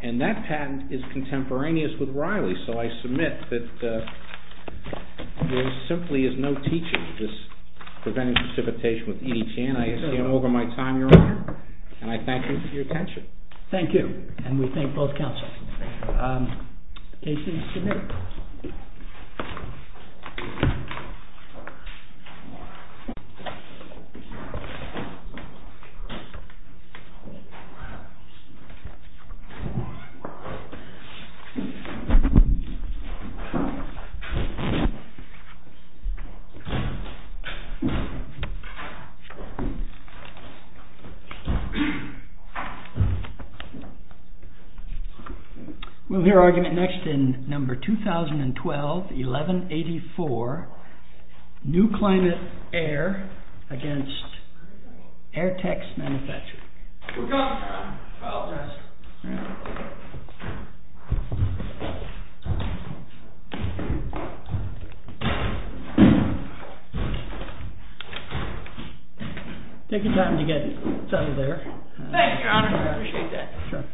And that patent is contemporaneous with Riley's. So I submit that there simply is no teaching this preventive precipitation with EDTN. I stand over my time, Your Honor, and I thank you for your attention. Thank you, and we thank both counsels. Case is submitted. We'll hear argument next in number 2012-1184, NUCLIMATE AIR v. AIRTEX MFG. We're done, Your Honor. I apologize. Take your time to get settled there. Thank you, Your Honor. I appreciate that. Sure.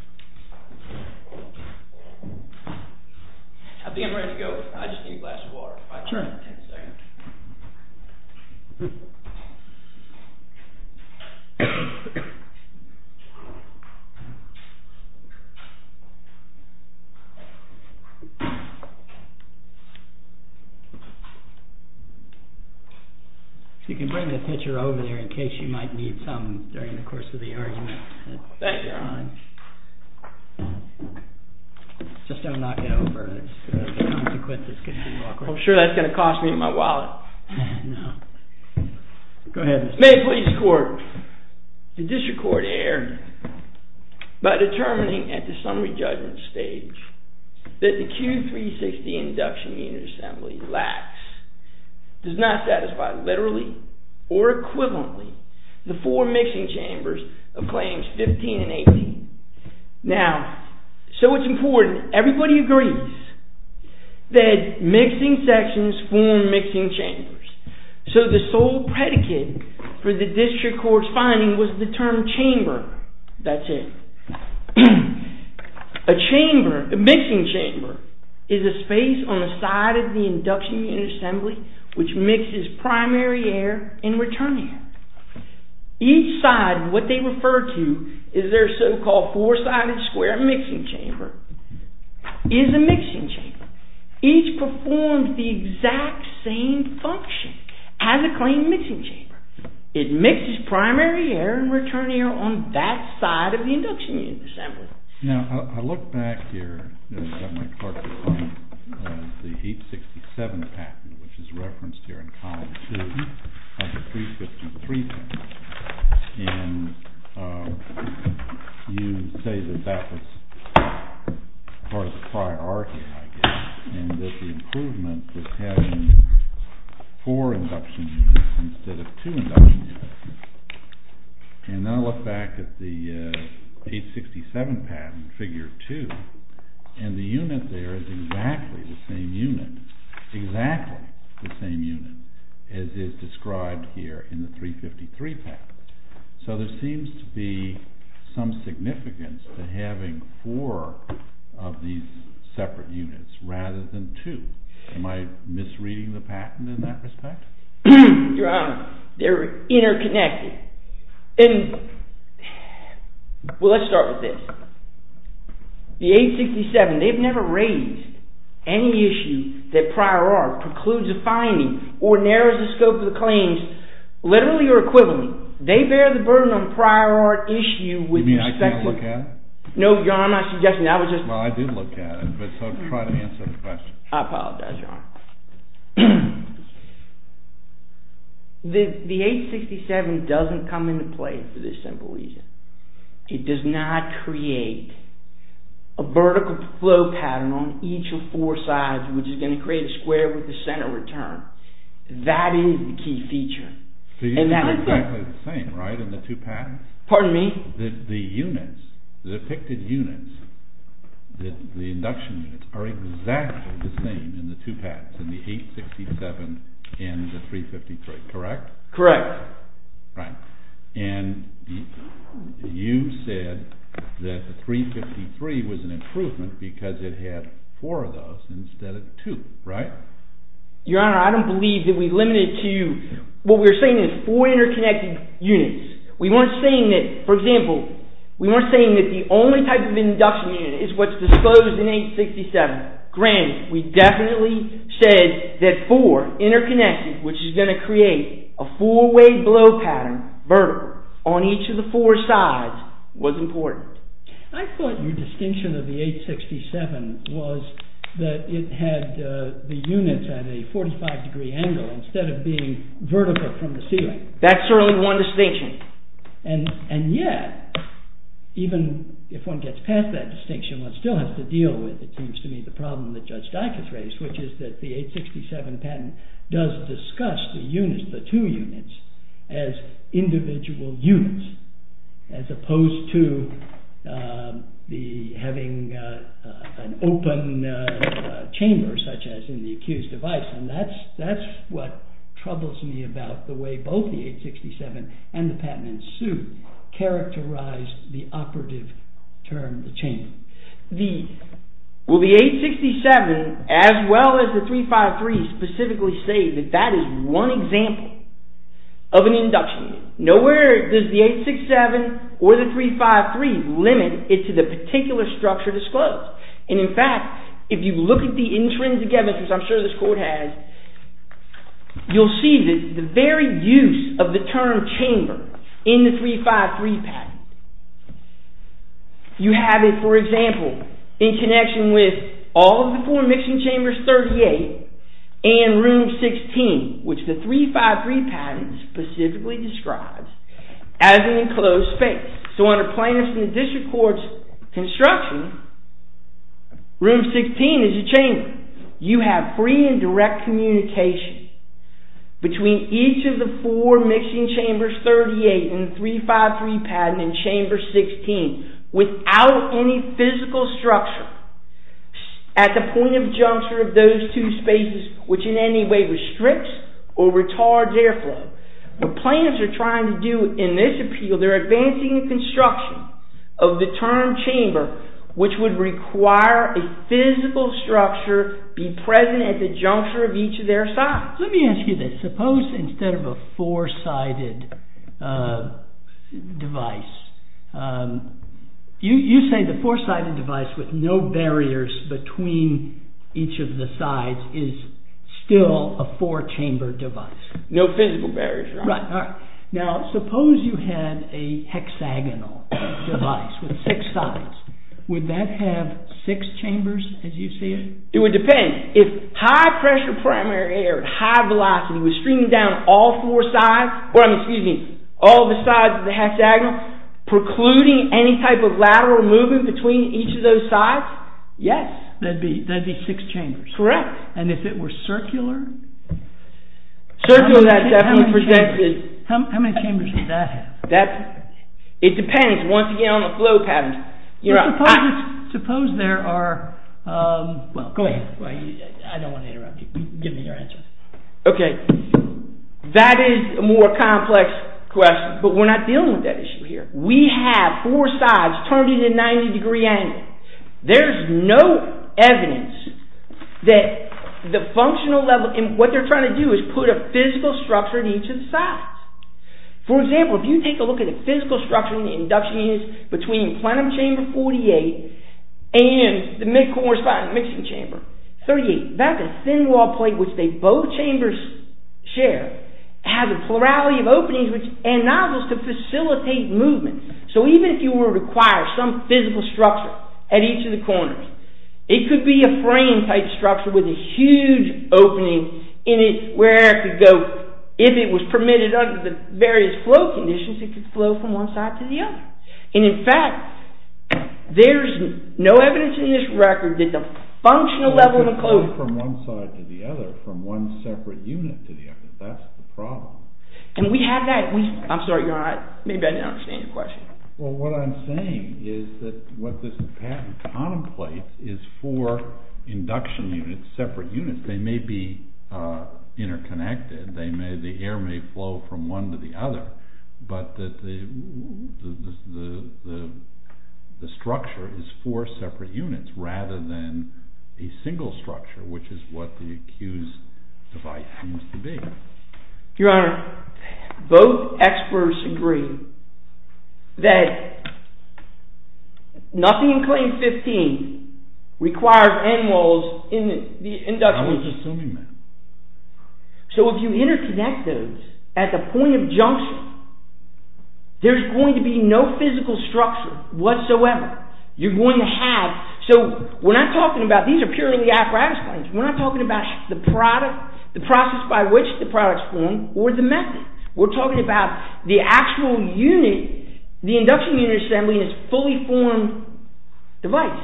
I think I'm ready to go. I just need a glass of water. Sure. You can bring the pitcher over there in case you might need something during the course of the argument. Thank you, Your Honor. Just don't knock it over. The consequence is going to be awkward. I'm sure that's going to cost me my wallet. No. Go ahead. May it please the court. The district court erred by determining at the summary judgment stage that the Q360 induction unit assembly lacks, does not satisfy literally or equivalently the four mixing chambers of claims 15 and 18. Now, so it's important everybody agrees that mixing sections form mixing chambers. So the sole predicate for the district court's finding was the term chamber. That's it. A chamber, a mixing chamber is a space on the side of the induction unit assembly which mixes primary air and return air. Each side, what they refer to is their so-called four-sided square mixing chamber, is a mixing chamber. Each performs the exact same function as a claim mixing chamber. It mixes primary air and return air on that side of the induction unit assembly. Now, I look back here, you know, I've got my part of the claim, the 867 patent which is referenced here in column two of the 353 patent. And you say that that was part of the priority, I guess, and that the improvement was having four induction units instead of two induction units. And I look back at the 867 patent, figure two, and the unit there is exactly the same unit, exactly the same unit as is described here in the 353 patent. So there seems to be some significance to having four of these separate units rather than two. Am I misreading the patent in that respect? Your Honor, they're interconnected. And, well, let's start with this. The 867, they've never raised any issue that prior art precludes a finding or narrows the scope of the claims, literally or equivalently. They bear the burden on prior art issue with respect to- You mean I can't look at it? No, Your Honor, I'm not suggesting that. Well, I did look at it, but so try to answer the question. I apologize, Your Honor. The 867 doesn't come into play for this simple reason. It does not create a vertical flow pattern on each of four sides which is going to create a square with the center return. That is the key feature. So you said exactly the same, right, in the two patents? Pardon me? The units, the depicted units, the induction units, are exactly the same in the two patents, in the 867 and the 353, correct? Correct. Right. And you said that the 353 was an improvement because it had four of those instead of two, right? Your Honor, I don't believe that we limited it to, what we're saying is four interconnected units. We weren't saying that, for example, we weren't saying that the only type of induction unit is what's disposed in 867. Granted, we definitely said that four interconnected, which is going to create a four-way blow pattern, vertical, on each of the four sides was important. I thought your distinction of the 867 was that it had the units at a 45-degree angle instead of being vertical from the ceiling. That's certainly one distinction. And yet, even if one gets past that distinction, one still has to deal with, it seems to me, the problem that Judge Dike has raised, which is that the 867 patent does discuss the units, the two units, as individual units as opposed to having an open chamber, such as in the accused device, and that's what troubles me about the way both the 867 and the patent in suit characterized the operative term, the chamber. Will the 867, as well as the 353, specifically say that that is one example of an induction unit? Nowhere does the 867 or the 353 limit it to the particular structure disclosed. And in fact, if you look at the intrinsic evidence, which I'm sure this court has, you'll see that the very use of the term chamber in the 353 patent, you have it, for example, in connection with all of the four mixing chambers, 38, and room 16, which the 353 patent specifically describes as an enclosed space. So under plaintiffs in the district court's construction, room 16 is a chamber. You have free and direct communication between each of the four mixing chambers, 38, and the 353 patent in chamber 16 without any physical structure at the point of juncture of those two spaces, which in any way restricts or retards airflow. What plaintiffs are trying to do in this appeal, they're advancing the construction of the term chamber, which would require a physical structure be present at the juncture of each of their sites. Let me ask you this. Suppose instead of a four-sided device, you say the four-sided device with no barriers between each of the sides is still a four-chamber device. No physical barriers, right? Right, all right. Now, suppose you had a hexagonal device with six sides. Would that have six chambers as you see it? It would depend. If high-pressure primary air at high velocity was streaming down all four sides, or excuse me, all the sides of the hexagon, precluding any type of lateral movement between each of those sides, yes. That'd be six chambers. Correct. And if it were circular? Circular, that definitely presents it. How many chambers does that have? It depends, once again, on the flow patterns. You're right. Suppose there are, well, go ahead. I don't want to interrupt you. Give me your answer. Okay, that is a more complex question, but we're not dealing with that issue here. We have four sides turned in a 90-degree angle. There's no evidence that the functional level, and what they're trying to do is put a physical structure in each of the sides. For example, if you take a look at the physical structure in the induction units between plenum chamber 48 and the mid-correspondent mixing chamber 38, that's a thin wall plate which they both chambers share. It has a plurality of openings and nozzles to facilitate movement. So even if you were to acquire some physical structure at each of the corners, it could be a frame-type structure with a huge opening in it where it could go. If it was permitted under the various flow conditions, it could flow from one side to the other. And in fact, there's no evidence in this record that the functional level of the closed- It could flow from one side to the other, from one separate unit to the other. That's the problem. And we have that. I'm sorry, maybe I didn't understand your question. Well, what I'm saying is that what this patent contemplates is four induction units, separate units. They may be interconnected. The air may flow from one to the other, but the structure is four separate units rather than a single structure, which is what the accused device seems to be. Your Honor, both experts agree that nothing in Claim 15 requires end walls in the induction unit. I was assuming that. So if you interconnect those at the point of junction, there's going to be no physical structure whatsoever. You're going to have- So we're not talking about- These are purely apparatus claims. We're not talking about the process by which the product's formed or the method. We're talking about the actual unit. The induction unit assembly is a fully formed device.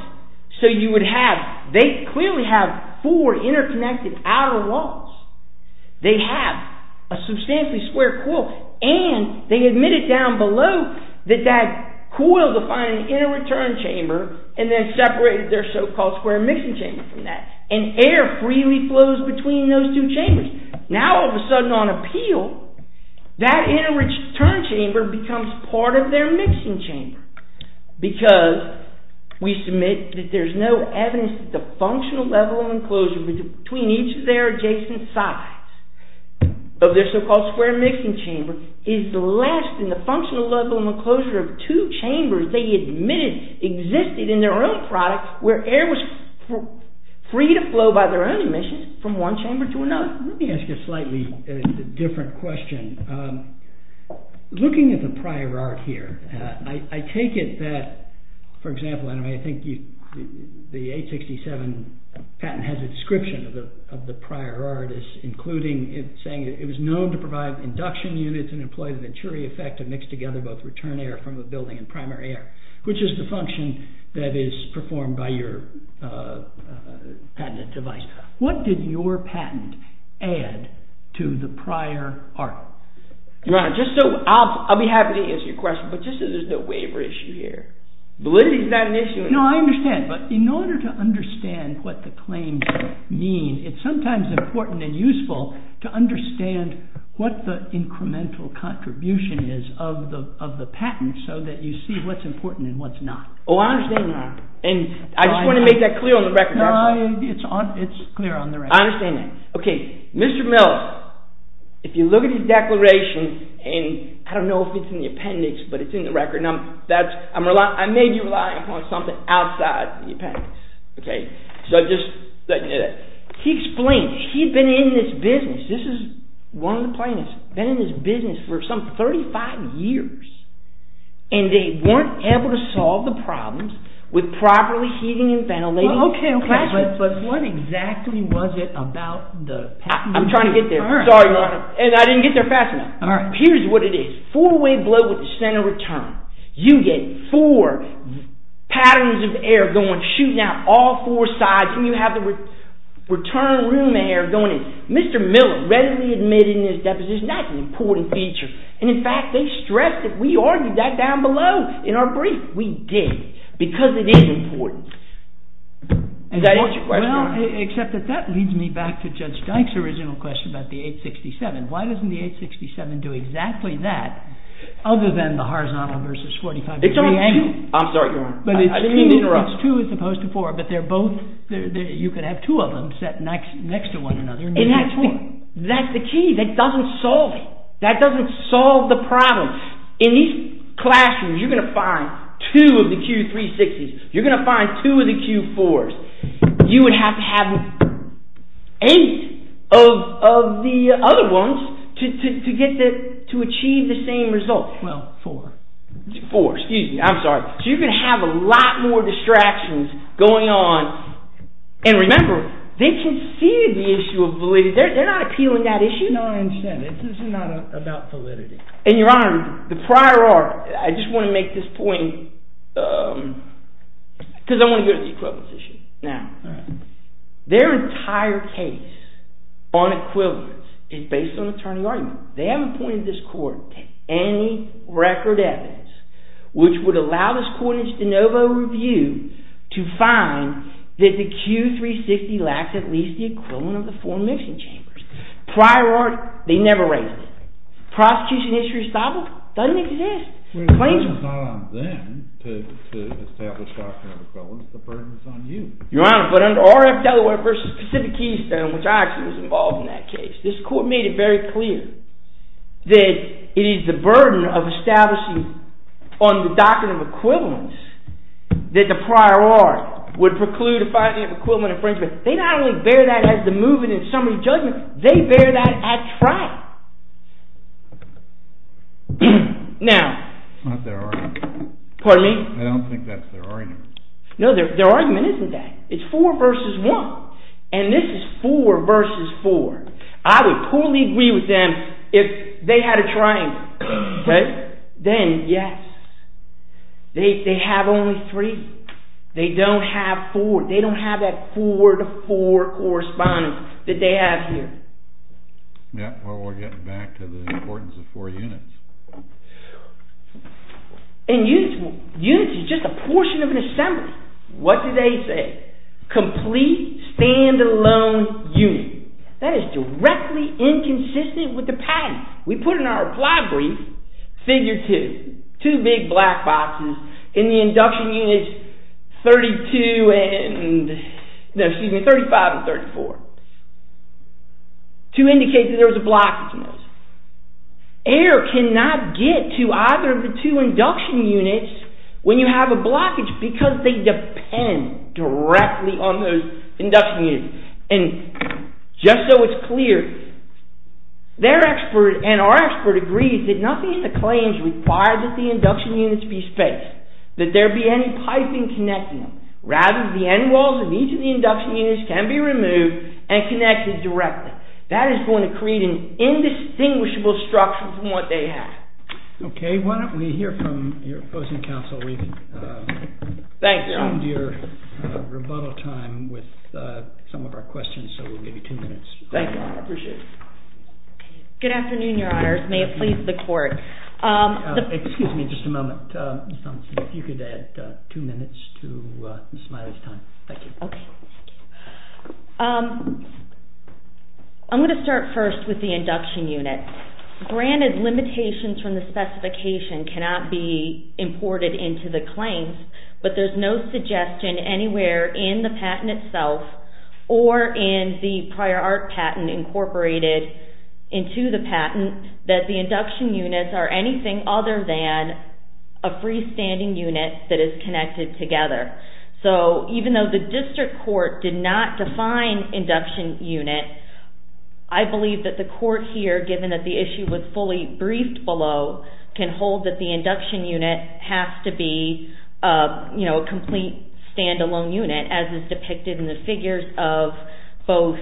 So you would have- They clearly have four interconnected outer walls. They have a substantially square coil, and they admit it down below that that coil defined an inner return chamber and then separated their so-called square mixing chamber from that, and air freely flows between those two chambers. Now, all of a sudden, on appeal, that inner return chamber becomes part of their mixing chamber because we submit that there's no evidence that the functional level of enclosure between each of their adjacent sides of their so-called square mixing chamber is less than the functional level and enclosure of two chambers they admitted existed in their own product where air was free to flow by their own emissions from one chamber to another. Let me ask you a slightly different question. Looking at the prior art here, I take it that, for example, and I think the 867 patent has a description of the prior art as including it saying it was known to provide induction units and employ the Venturi effect of mixed together both return air from the building and primary air, which is the function that is performed by your patented device. What did your patent add to the prior art? Your Honor, I'll be happy to answer your question, but just so there's no waiver issue here. Validity's not an issue. No, I understand, but in order to understand what the claims mean, it's sometimes important and useful to understand what the incremental contribution is of the patent so that you see what's important and what's not. Oh, I understand, Your Honor, and I just want to make that clear on the record. No, it's clear on the record. I understand that. Okay, Mr. Mills, if you look at his declaration, and I don't know if it's in the appendix, but it's in the record, and I may be relying upon something outside the appendix, okay? So I just, he explains, he'd been in this business, this is one of the plaintiffs, been in this business for some 35 years, and they weren't able to solve the problems with properly heating and ventilating classrooms. Okay, okay, but what exactly was it about the patent? I'm trying to get there. Sorry, Your Honor, and I didn't get there fast enough. Here's what it is. Four-way blow with the center return. You get four patterns of air going, and he's now all four sides, and you have the return room air going in. Mr. Miller readily admitted in his deposition that's an important feature, and in fact, they stressed it. We argued that down below in our brief. We did, because it is important. And that is, well, except that that leads me back to Judge Dyke's original question about the 867. Why doesn't the 867 do exactly that, other than the horizontal versus 45 degree angle? I'm sorry, Your Honor. I didn't mean to interrupt. It's two as opposed to four, but they're both, you could have two of them set next to one another. It has to be. That's the key. That doesn't solve it. That doesn't solve the problem. In these classrooms, you're gonna find two of the Q360s. You're gonna find two of the Q4s. You would have to have eight of the other ones to achieve the same result. Well, four. Four, excuse me, I'm sorry. So you're gonna have a lot more distractions going on. And remember, they conceded the issue of validity. They're not appealing that issue. No, I understand. This is not about validity. And Your Honor, the prior art, I just wanna make this point, because I wanna go to the equivalence issue. Now, their entire case on equivalence is based on attorney argument. They haven't pointed this court to any record evidence which would allow this court in its de novo review to find that the Q360 lacks at least the equivalent of the four mixing chambers. Prior art, they never raised it. Prosecution history establishment doesn't exist. The claim is on them to establish doctrine of equivalence. The burden is on you. Your Honor, but under RF Delaware versus Pacific Keystone, which I actually was involved in that case, this court made it very clear that it is the burden of establishing on the doctrine of equivalence that the prior art would preclude a finding of equivalent infringement. They not only bear that as the movement in summary judgment, they bear that at trial. Now. It's not their argument. Pardon me? I don't think that's their argument. No, their argument isn't that. It's four versus one. And this is four versus four. I would poorly agree with them if they had a triangle. Okay? Then, yes. They have only three. They don't have four. They don't have that four to four correspondence that they have here. Yeah, well, we're getting back to the importance of four units. And units is just a portion of an assembly. What do they say? Complete, stand-alone unit. That is directly inconsistent with the patent. We put in our apply brief, figure two. Two big black boxes in the induction units 32 and, no, excuse me, 35 and 34. To indicate that there was a blockage in those. Air cannot get to either of the two induction units when you have a blockage because they depend directly on those induction units. And just so it's clear, their expert and our expert agrees that nothing in the claims requires that the induction units be spaced. That there be any piping connecting them. Rather, the end walls of each of the induction units can be removed and connected directly. That is going to create an indistinguishable structure from what they have. Okay, why don't we hear from your opposing counsel. We've consumed your rebuttal time with some of our questions, so we'll give you two minutes. Thank you, I appreciate it. Good afternoon, your honors. May it please the court. Excuse me just a moment, Ms. Thompson. If you could add two minutes to Ms. Smiley's time. Thank you. Okay, thank you. I'm gonna start first with the induction unit. Granted, limitations from the specification cannot be imported into the claims, but there's no suggestion anywhere in the patent itself or in the prior art patent incorporated into the patent that the induction units are anything other than a freestanding unit that is connected together. So even though the district court did not define induction unit, I believe that the court here, given that the issue was fully briefed below, can hold that the induction unit has to be a complete standalone unit as is depicted in the figures of both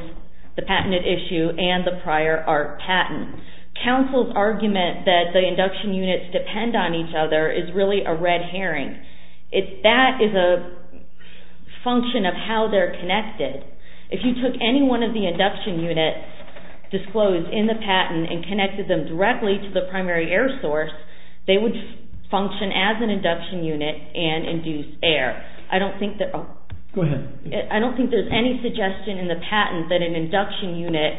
the patented issue and the prior art patent. Counsel's argument that the induction units depend on each other is really a red herring. That is a function of how they're connected. If you took any one of the induction units disclosed in the patent and connected them directly to the primary air source, they would function as an induction unit and induce air. I don't think that- Go ahead. I don't think there's any suggestion in the patent that an induction unit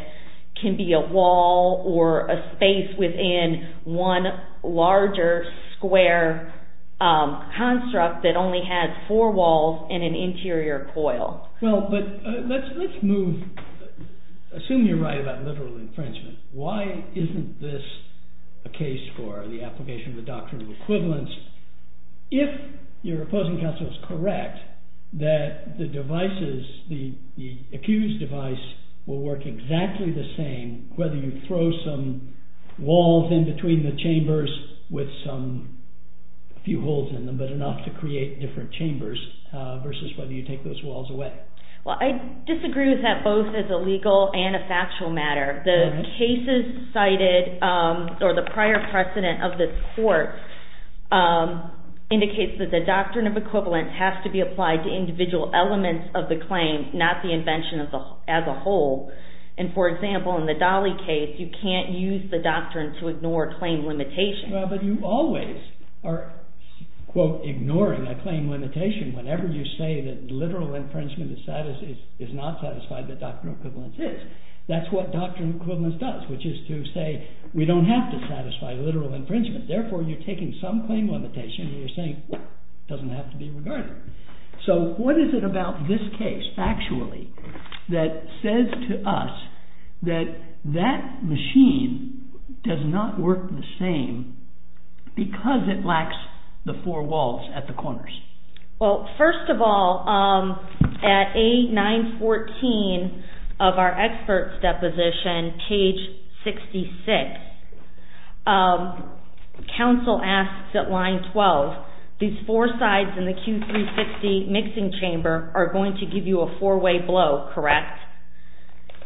can be a wall or a space within one larger square construct that only has four walls and an interior coil. Well, but let's move. Assume you're right about literal infringement. Why isn't this a case for the application of the doctrine of equivalence? If your opposing counsel is correct, that the devices, the accused device, will work exactly the same, whether you throw some walls in between the chambers with a few holes in them, but enough to create different chambers, versus whether you take those walls away. Well, I disagree with that both as a legal and a factual matter. The cases cited or the prior precedent of this court indicates that the doctrine of equivalence has to be applied to individual elements of the claim, not the invention as a whole. And for example, in the Dolly case, you can't use the doctrine to ignore claim limitation. Well, but you always are, quote, ignoring a claim limitation. Whenever you say that literal infringement is not satisfied, the doctrine of equivalence is. That's what doctrine of equivalence does, which is to say, we don't have to satisfy literal infringement. Therefore, you're taking some claim limitation and you're saying, well, it doesn't have to be regarded. So what is it about this case, factually, that says to us that that machine does not work the same because it lacks the four walls at the corners? Well, first of all, at A914 of our expert's deposition, page 66, counsel asks at line 12, these four sides in the Q360 mixing chamber are going to give you a four-way blow, correct?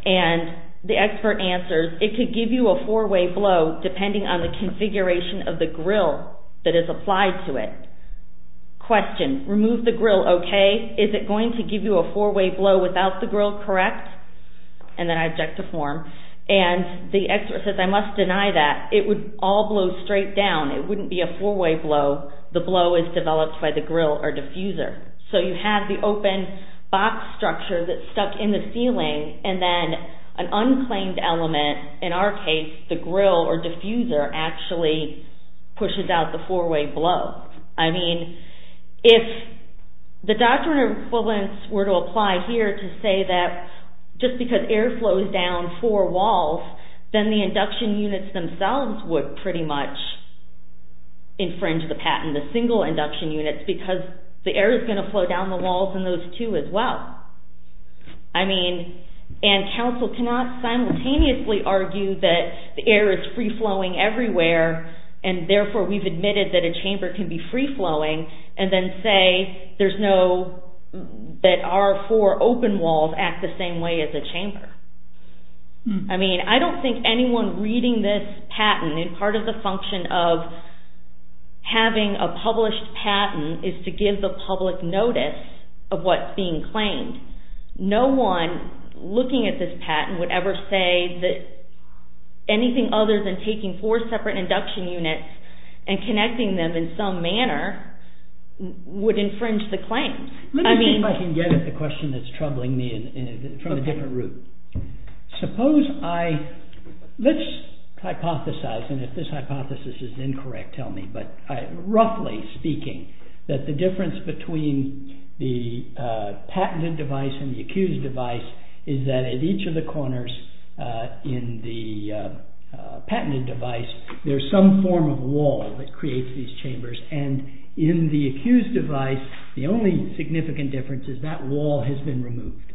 And the expert answers, it could give you a four-way blow depending on the configuration of the grill that is applied to it. Question, remove the grill, okay? Is it going to give you a four-way blow without the grill, correct? And then I object to form. And the expert says, I must deny that. It would all blow straight down. It wouldn't be a four-way blow. The blow is developed by the grill or diffuser. So you have the open box structure that's stuck in the ceiling and then an unclaimed element, in our case, the grill or diffuser, actually pushes out the four-way blow. I mean, if the doctrine of equivalence were to apply here to say that just because air flows down four walls, then the induction units themselves would pretty much infringe the patent, the single induction units, because the air is going to flow down the walls in those two as well. I mean, and counsel cannot simultaneously argue that the air is free-flowing everywhere and therefore we've admitted that a chamber can be free-flowing and then say there's no, that our four open walls act the same way as a chamber. I mean, I don't think anyone reading this patent in part of the function of having a published patent is to give the public notice of what's being claimed. No one looking at this patent would ever say that anything other than taking four separate induction units and connecting them in some manner would infringe the claim. I mean- Let me see if I can get at the question that's troubling me from a different route. Suppose I, let's hypothesize, and if this hypothesis is incorrect, tell me, but roughly speaking, that the difference between the patented device and the accused device is that at each of the corners in the patented device, there's some form of wall that creates these chambers and in the accused device, the only significant difference is that wall has been removed.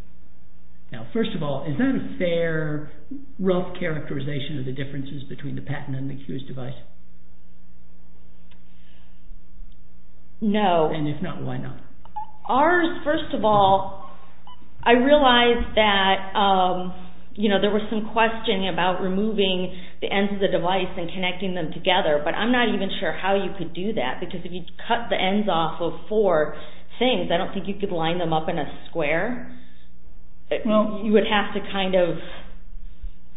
Now, first of all, is that a fair, rough characterization of the differences between the patent and the accused device? No. And if not, why not? Ours, first of all, I realized that there was some question about removing the ends of the device and connecting them together, but I'm not even sure how you could do that because if you cut the ends off of four things, I don't think you could line them up in a square. You would have to kind of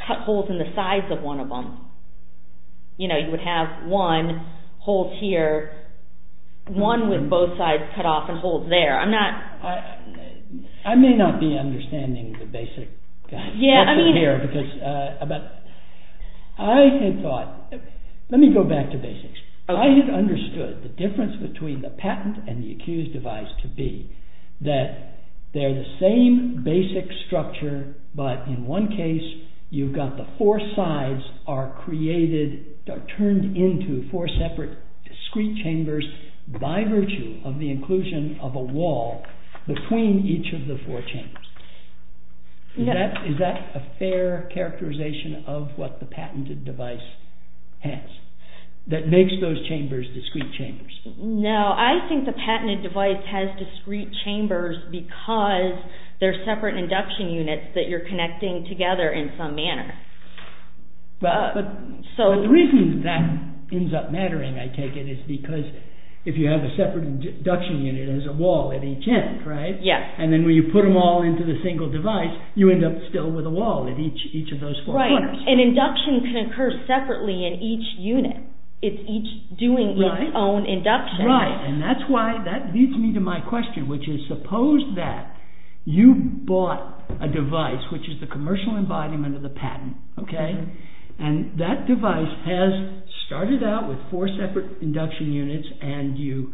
cut holes in the sides of one of them. You know, you would have one hole here, one with both sides cut off and holes there. I'm not- I may not be understanding the basic stuff in here because I had thought, let me go back to basics. I had understood the difference between the patent and the accused device to be that they're the same basic structure, but in one case, you've got the four sides are created, are turned into four separate discreet chambers by virtue of the inclusion of a wall between each of the four chambers. Is that a fair characterization of what the patented device has that makes those chambers discreet chambers? No, I think the patented device has discreet chambers because they're separate induction units that you're connecting together in some manner. So- But the reason that ends up mattering, I take it, is because if you have a separate induction unit, there's a wall at each end, right? Yes. And then when you put them all into the single device, you end up still with a wall at each of those four corners. Right, and induction can occur separately in each unit. It's each doing its own induction. Right, and that's why, that leads me to my question, which is suppose that you bought a device, which is the commercial embodiment of the patent, okay? And that device has started out with four separate induction units, and you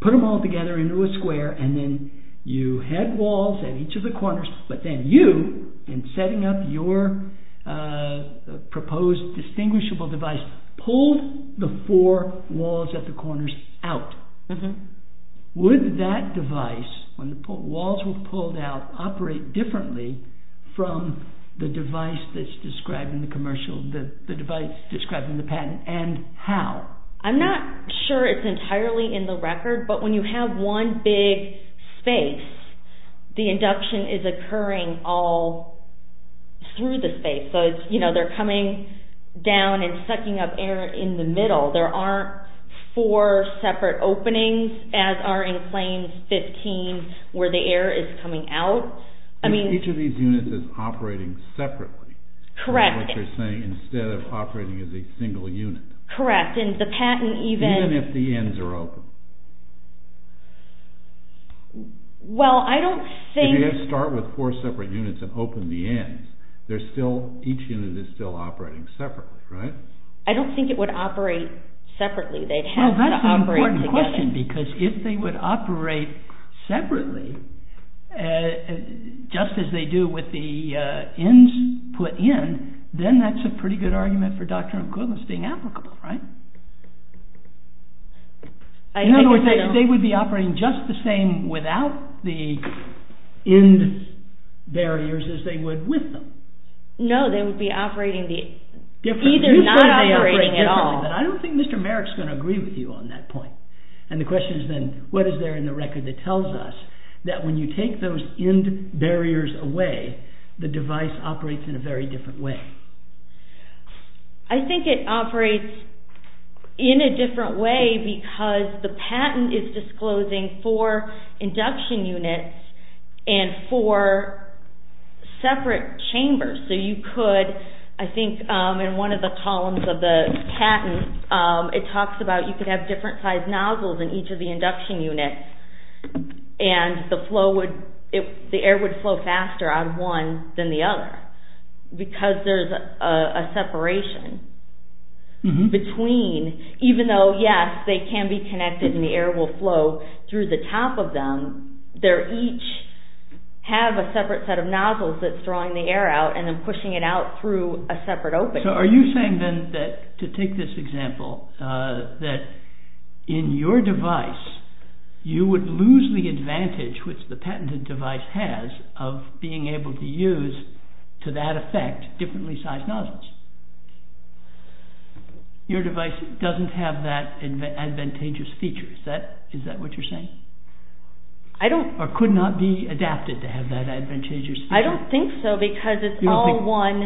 put them all together into a square, and then you had walls at each of the corners, but then you, in setting up your proposed distinguishable device, pulled the four walls at the corners out. Would that device, when the walls were pulled out, operate differently from the device that's described in the commercial, the device described in the patent, and how? I'm not sure it's entirely in the record, but when you have one big space, the induction is occurring all through the space. So it's, you know, they're coming down and sucking up air in the middle. There aren't four separate openings, as are in claims 15, where the air is coming out. I mean- Each of these units is operating separately. Correct. From what you're saying, instead of operating as a single unit. Correct, and the patent even- Well, I don't think- If you had to start with four separate units and open the ends, they're still, each unit is still operating separately, right? I don't think it would operate separately. They'd have to operate together. Well, that's an important question, because if they would operate separately, just as they do with the ends put in, then that's a pretty good argument for Doctrine and Covenants being applicable, right? I think if they don't- In other words, they would be operating just the same without the end barriers as they would with them. No, they would be operating the- Differently. Either not operating at all. You said they'd operate differently, but I don't think Mr. Merrick's gonna agree with you on that point. And the question is then, what is there in the record that tells us that when you take those end barriers away, the device operates in a very different way? I think it operates in a different way because the patent is disclosing four induction units and four separate chambers. So you could, I think in one of the columns of the patent, it talks about you could have different sized nozzles in each of the induction units, and the air would flow faster on one than the other, because there's a separation between, even though yes, they can be connected and the air will flow through the top of them, they're each have a separate set of nozzles that's drawing the air out and then pushing it out through a separate opening. So are you saying then that, to take this example, that in your device, you would lose the advantage which the patented device has of being able to use, to that effect, differently sized nozzles? Your device doesn't have that advantageous feature, is that what you're saying? I don't. Or could not be adapted to have that advantageous feature? I don't think so because it's all one,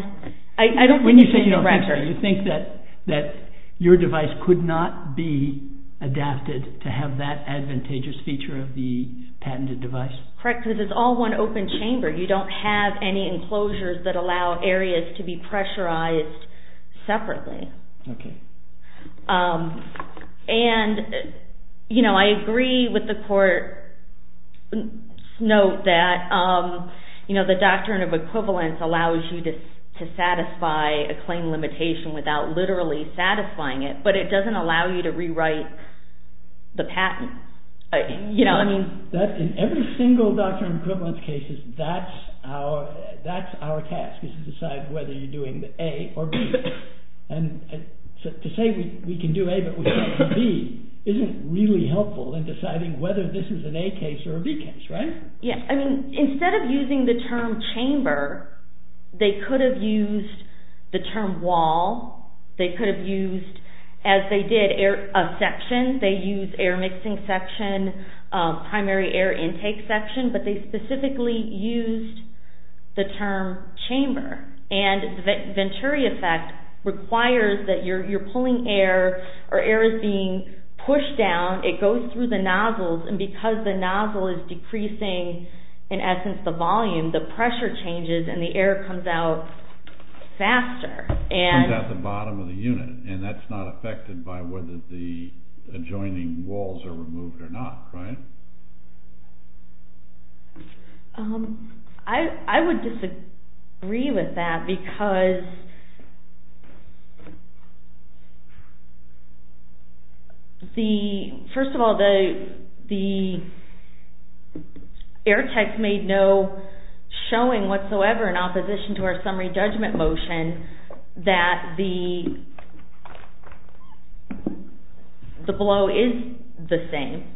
I don't think it's in the record. When you say you don't think so, you think that your device could not be adapted to have that advantageous feature of the patented device? Correct, because it's all one open chamber. You don't have any enclosures that allow areas to be pressurized separately. And I agree with the court's note that the doctrine of equivalence allows you to satisfy a claim limitation without literally satisfying it, but it doesn't allow you to rewrite the patent. You know, I mean. That, in every single doctrine of equivalence cases, that's our task is to decide whether you're doing the A or B. And to say we can do A but we can't do B isn't really helpful in deciding whether this is an A case or a B case, right? Yeah, I mean, instead of using the term chamber, they could have used the term wall, they could have used, as they did of sections, they used air mixing section, primary air intake section, but they specifically used the term chamber. And the Venturi effect requires that you're pulling air or air is being pushed down, it goes through the nozzles, and because the nozzle is decreasing, in essence, the volume, the pressure changes and the air comes out faster. And at the bottom of the unit, and that's not affected by whether the adjoining walls are removed or not, right? I would disagree with that because first of all, the air tech made no showing whatsoever in opposition to our summary judgment motion that the blow is the same.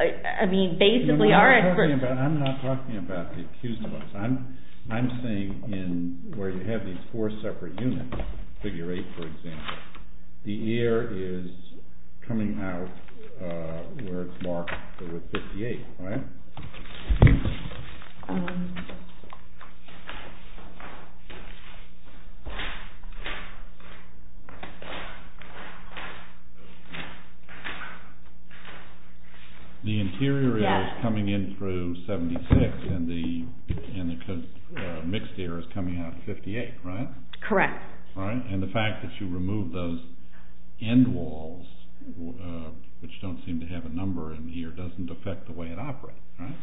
I mean, basically our experts- I'm not talking about the accused ones. I'm saying in where you have these four separate units, figure eight, for example, the air is coming out where it's marked with 58, right? Yes. The interior air is coming in through 76 and the mixed air is coming out at 58, right? Correct. All right, and the fact that you removed those end walls, which don't seem to have a number in here, doesn't affect the way it operates, right?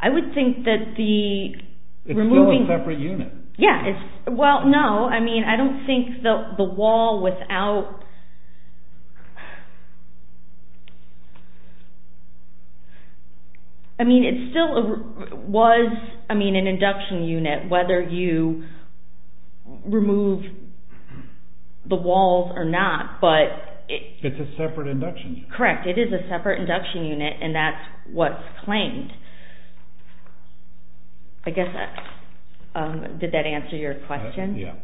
I would think that the- It's still a separate unit. Yeah, well, no. I mean, I don't think the wall without... I mean, it still was an induction unit whether you remove the walls or not, but- It's a separate induction unit. Correct, it is a separate induction unit and that's what's claimed. I guess, did that answer your question? Yeah.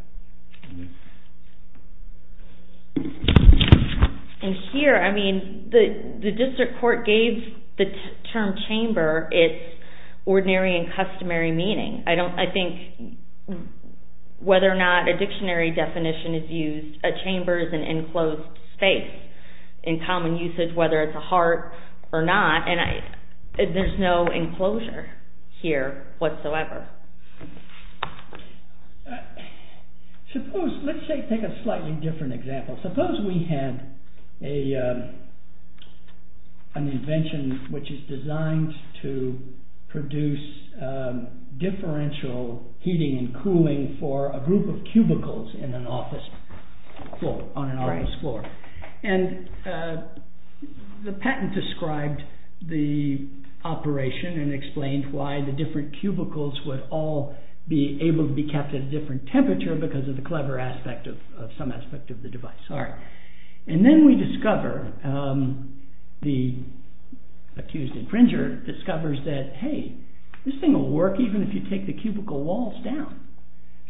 And here, I mean, the district court gave the term chamber its ordinary and customary meaning. I think whether or not a dictionary definition is used, a chamber is an enclosed space in common usage, whether it's a heart or not. There's no enclosure here whatsoever. Suppose, let's take a slightly different example. Suppose we had an invention which is designed to produce differential heating and cooling for a group of cubicles on an office floor. And the patent described the operation and explained why the different cubicles would all be able to be kept at a different temperature because of the clever aspect of some aspect of the device. All right, and then we discover, the accused infringer discovers that, hey, this thing will work even if you take the cubicle walls down.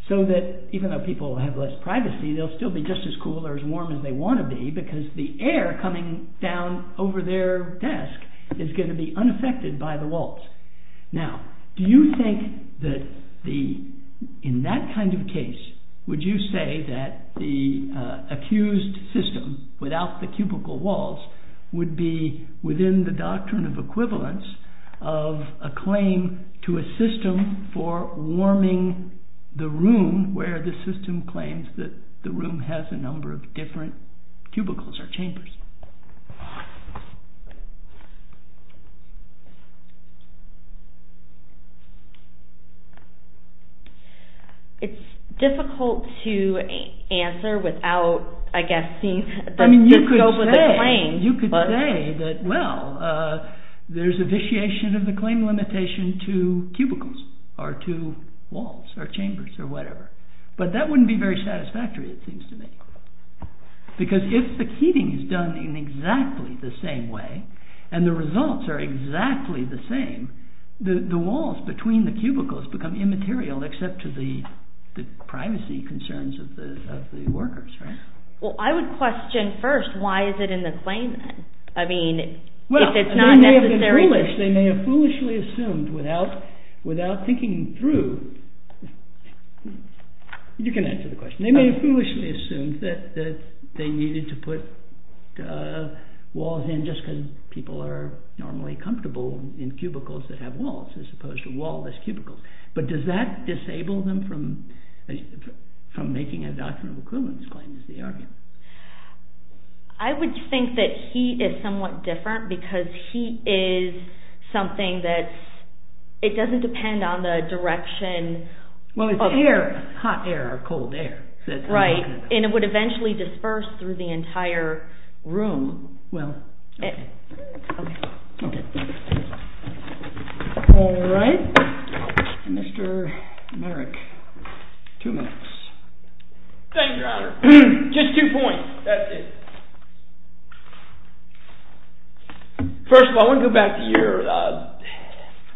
So that even though people have less privacy, they'll still be just as cool or as warm as they wanna be because the air coming down over their desk is gonna be unaffected by the walls. Now, do you think that in that kind of case, would you say that the accused system without the cubicle walls would be within the doctrine of equivalence of a claim to a system for warming the room where the system claims that the room has a number of different cubicles or chambers? It's difficult to answer without, I guess, seeing the scope of the claim. You could say that, well, there's a vitiation of the claim limitation to cubicles or to walls or chambers or whatever, but that wouldn't be very satisfactory, it seems to me. Because if the keeping is done in exactly the same way and the results are exactly the same, the walls between the cubicles become immaterial except to the privacy concerns of the workers, right? Well, I would question first, why is it in the claim then? I mean, if it's not necessary. They may have foolishly assumed without thinking through, you can answer the question. They may have foolishly assumed that they needed to put walls in just because people are normally comfortable in cubicles that have walls as opposed to wall-less cubicles. But does that disable them from making a doctrine of equivalence claim is the argument? I would think that he is somewhat different because he is something that's, it doesn't depend on the direction of- Well, it's air, hot air or cold air. Right, and it would eventually disperse through the entire room. Well, okay. All right, Mr. Merrick, two minutes. Thank you, Your Honor. Just two points, that's it. First of all, I wanna go back to your,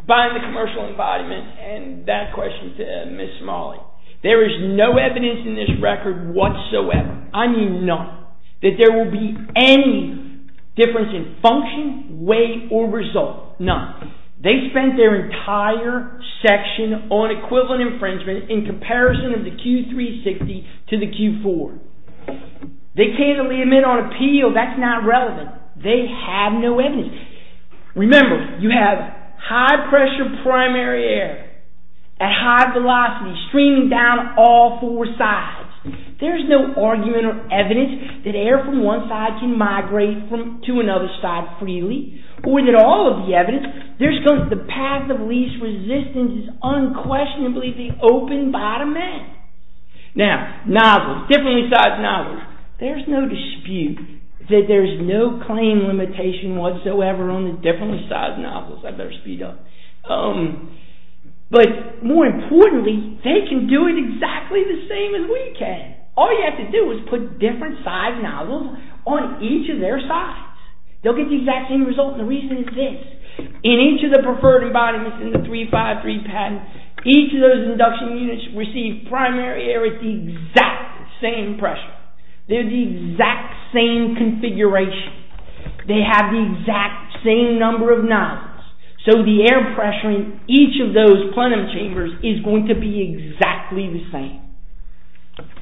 buying the commercial embodiment and that question to Ms. Smalley. There is no evidence in this record whatsoever, I mean none, that there will be any difference in function, weight, or result, none. They spent their entire section on equivalent infringement in comparison of the Q360 to the Q4. They candidly admit on appeal, that's not relevant. They have no evidence. Remember, you have high pressure primary air at high velocity streaming down all four sides. There's no argument or evidence that air from one side can migrate to another side freely or that all of the evidence, there's the path of least resistance is unquestionably the open bottom end. Now, novel, different besides novel, there's no dispute that there's no claim limitation whatsoever on the different besides novels. I better speed up. But more importantly, they can do it exactly the same as we can. All you have to do is put different besides novels on each of their sides. They'll get the exact same result and the reason is this. In each of the preferred embodiments in the 353 patent, each of those induction units receive primary air at the exact same pressure. They're the exact same configuration. They have the exact same number of novels. So the air pressure in each of those plenum chambers is going to be exactly the same.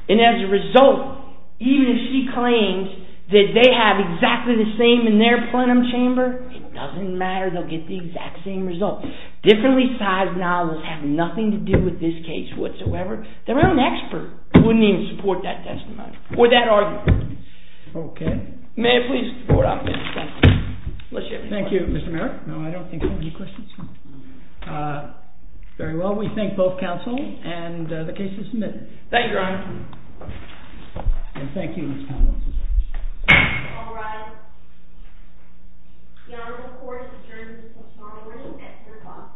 And as a result, even if she claims that they have exactly the same in their plenum chamber, it doesn't matter, they'll get the exact same result. Differently sized novels have nothing to do with this case whatsoever. Their own expert wouldn't even support that testimony or that argument. Okay. May I please vote on this testimony? Thank you, Mr. Mayor. No, I don't think so. Any questions? Very well, we thank both counsel and the case is submitted. Thank you, Your Honor. And thank you, Ms. Connell. All rise. The Honorable Court has adjourned until tomorrow morning at 3 o'clock. Thank you.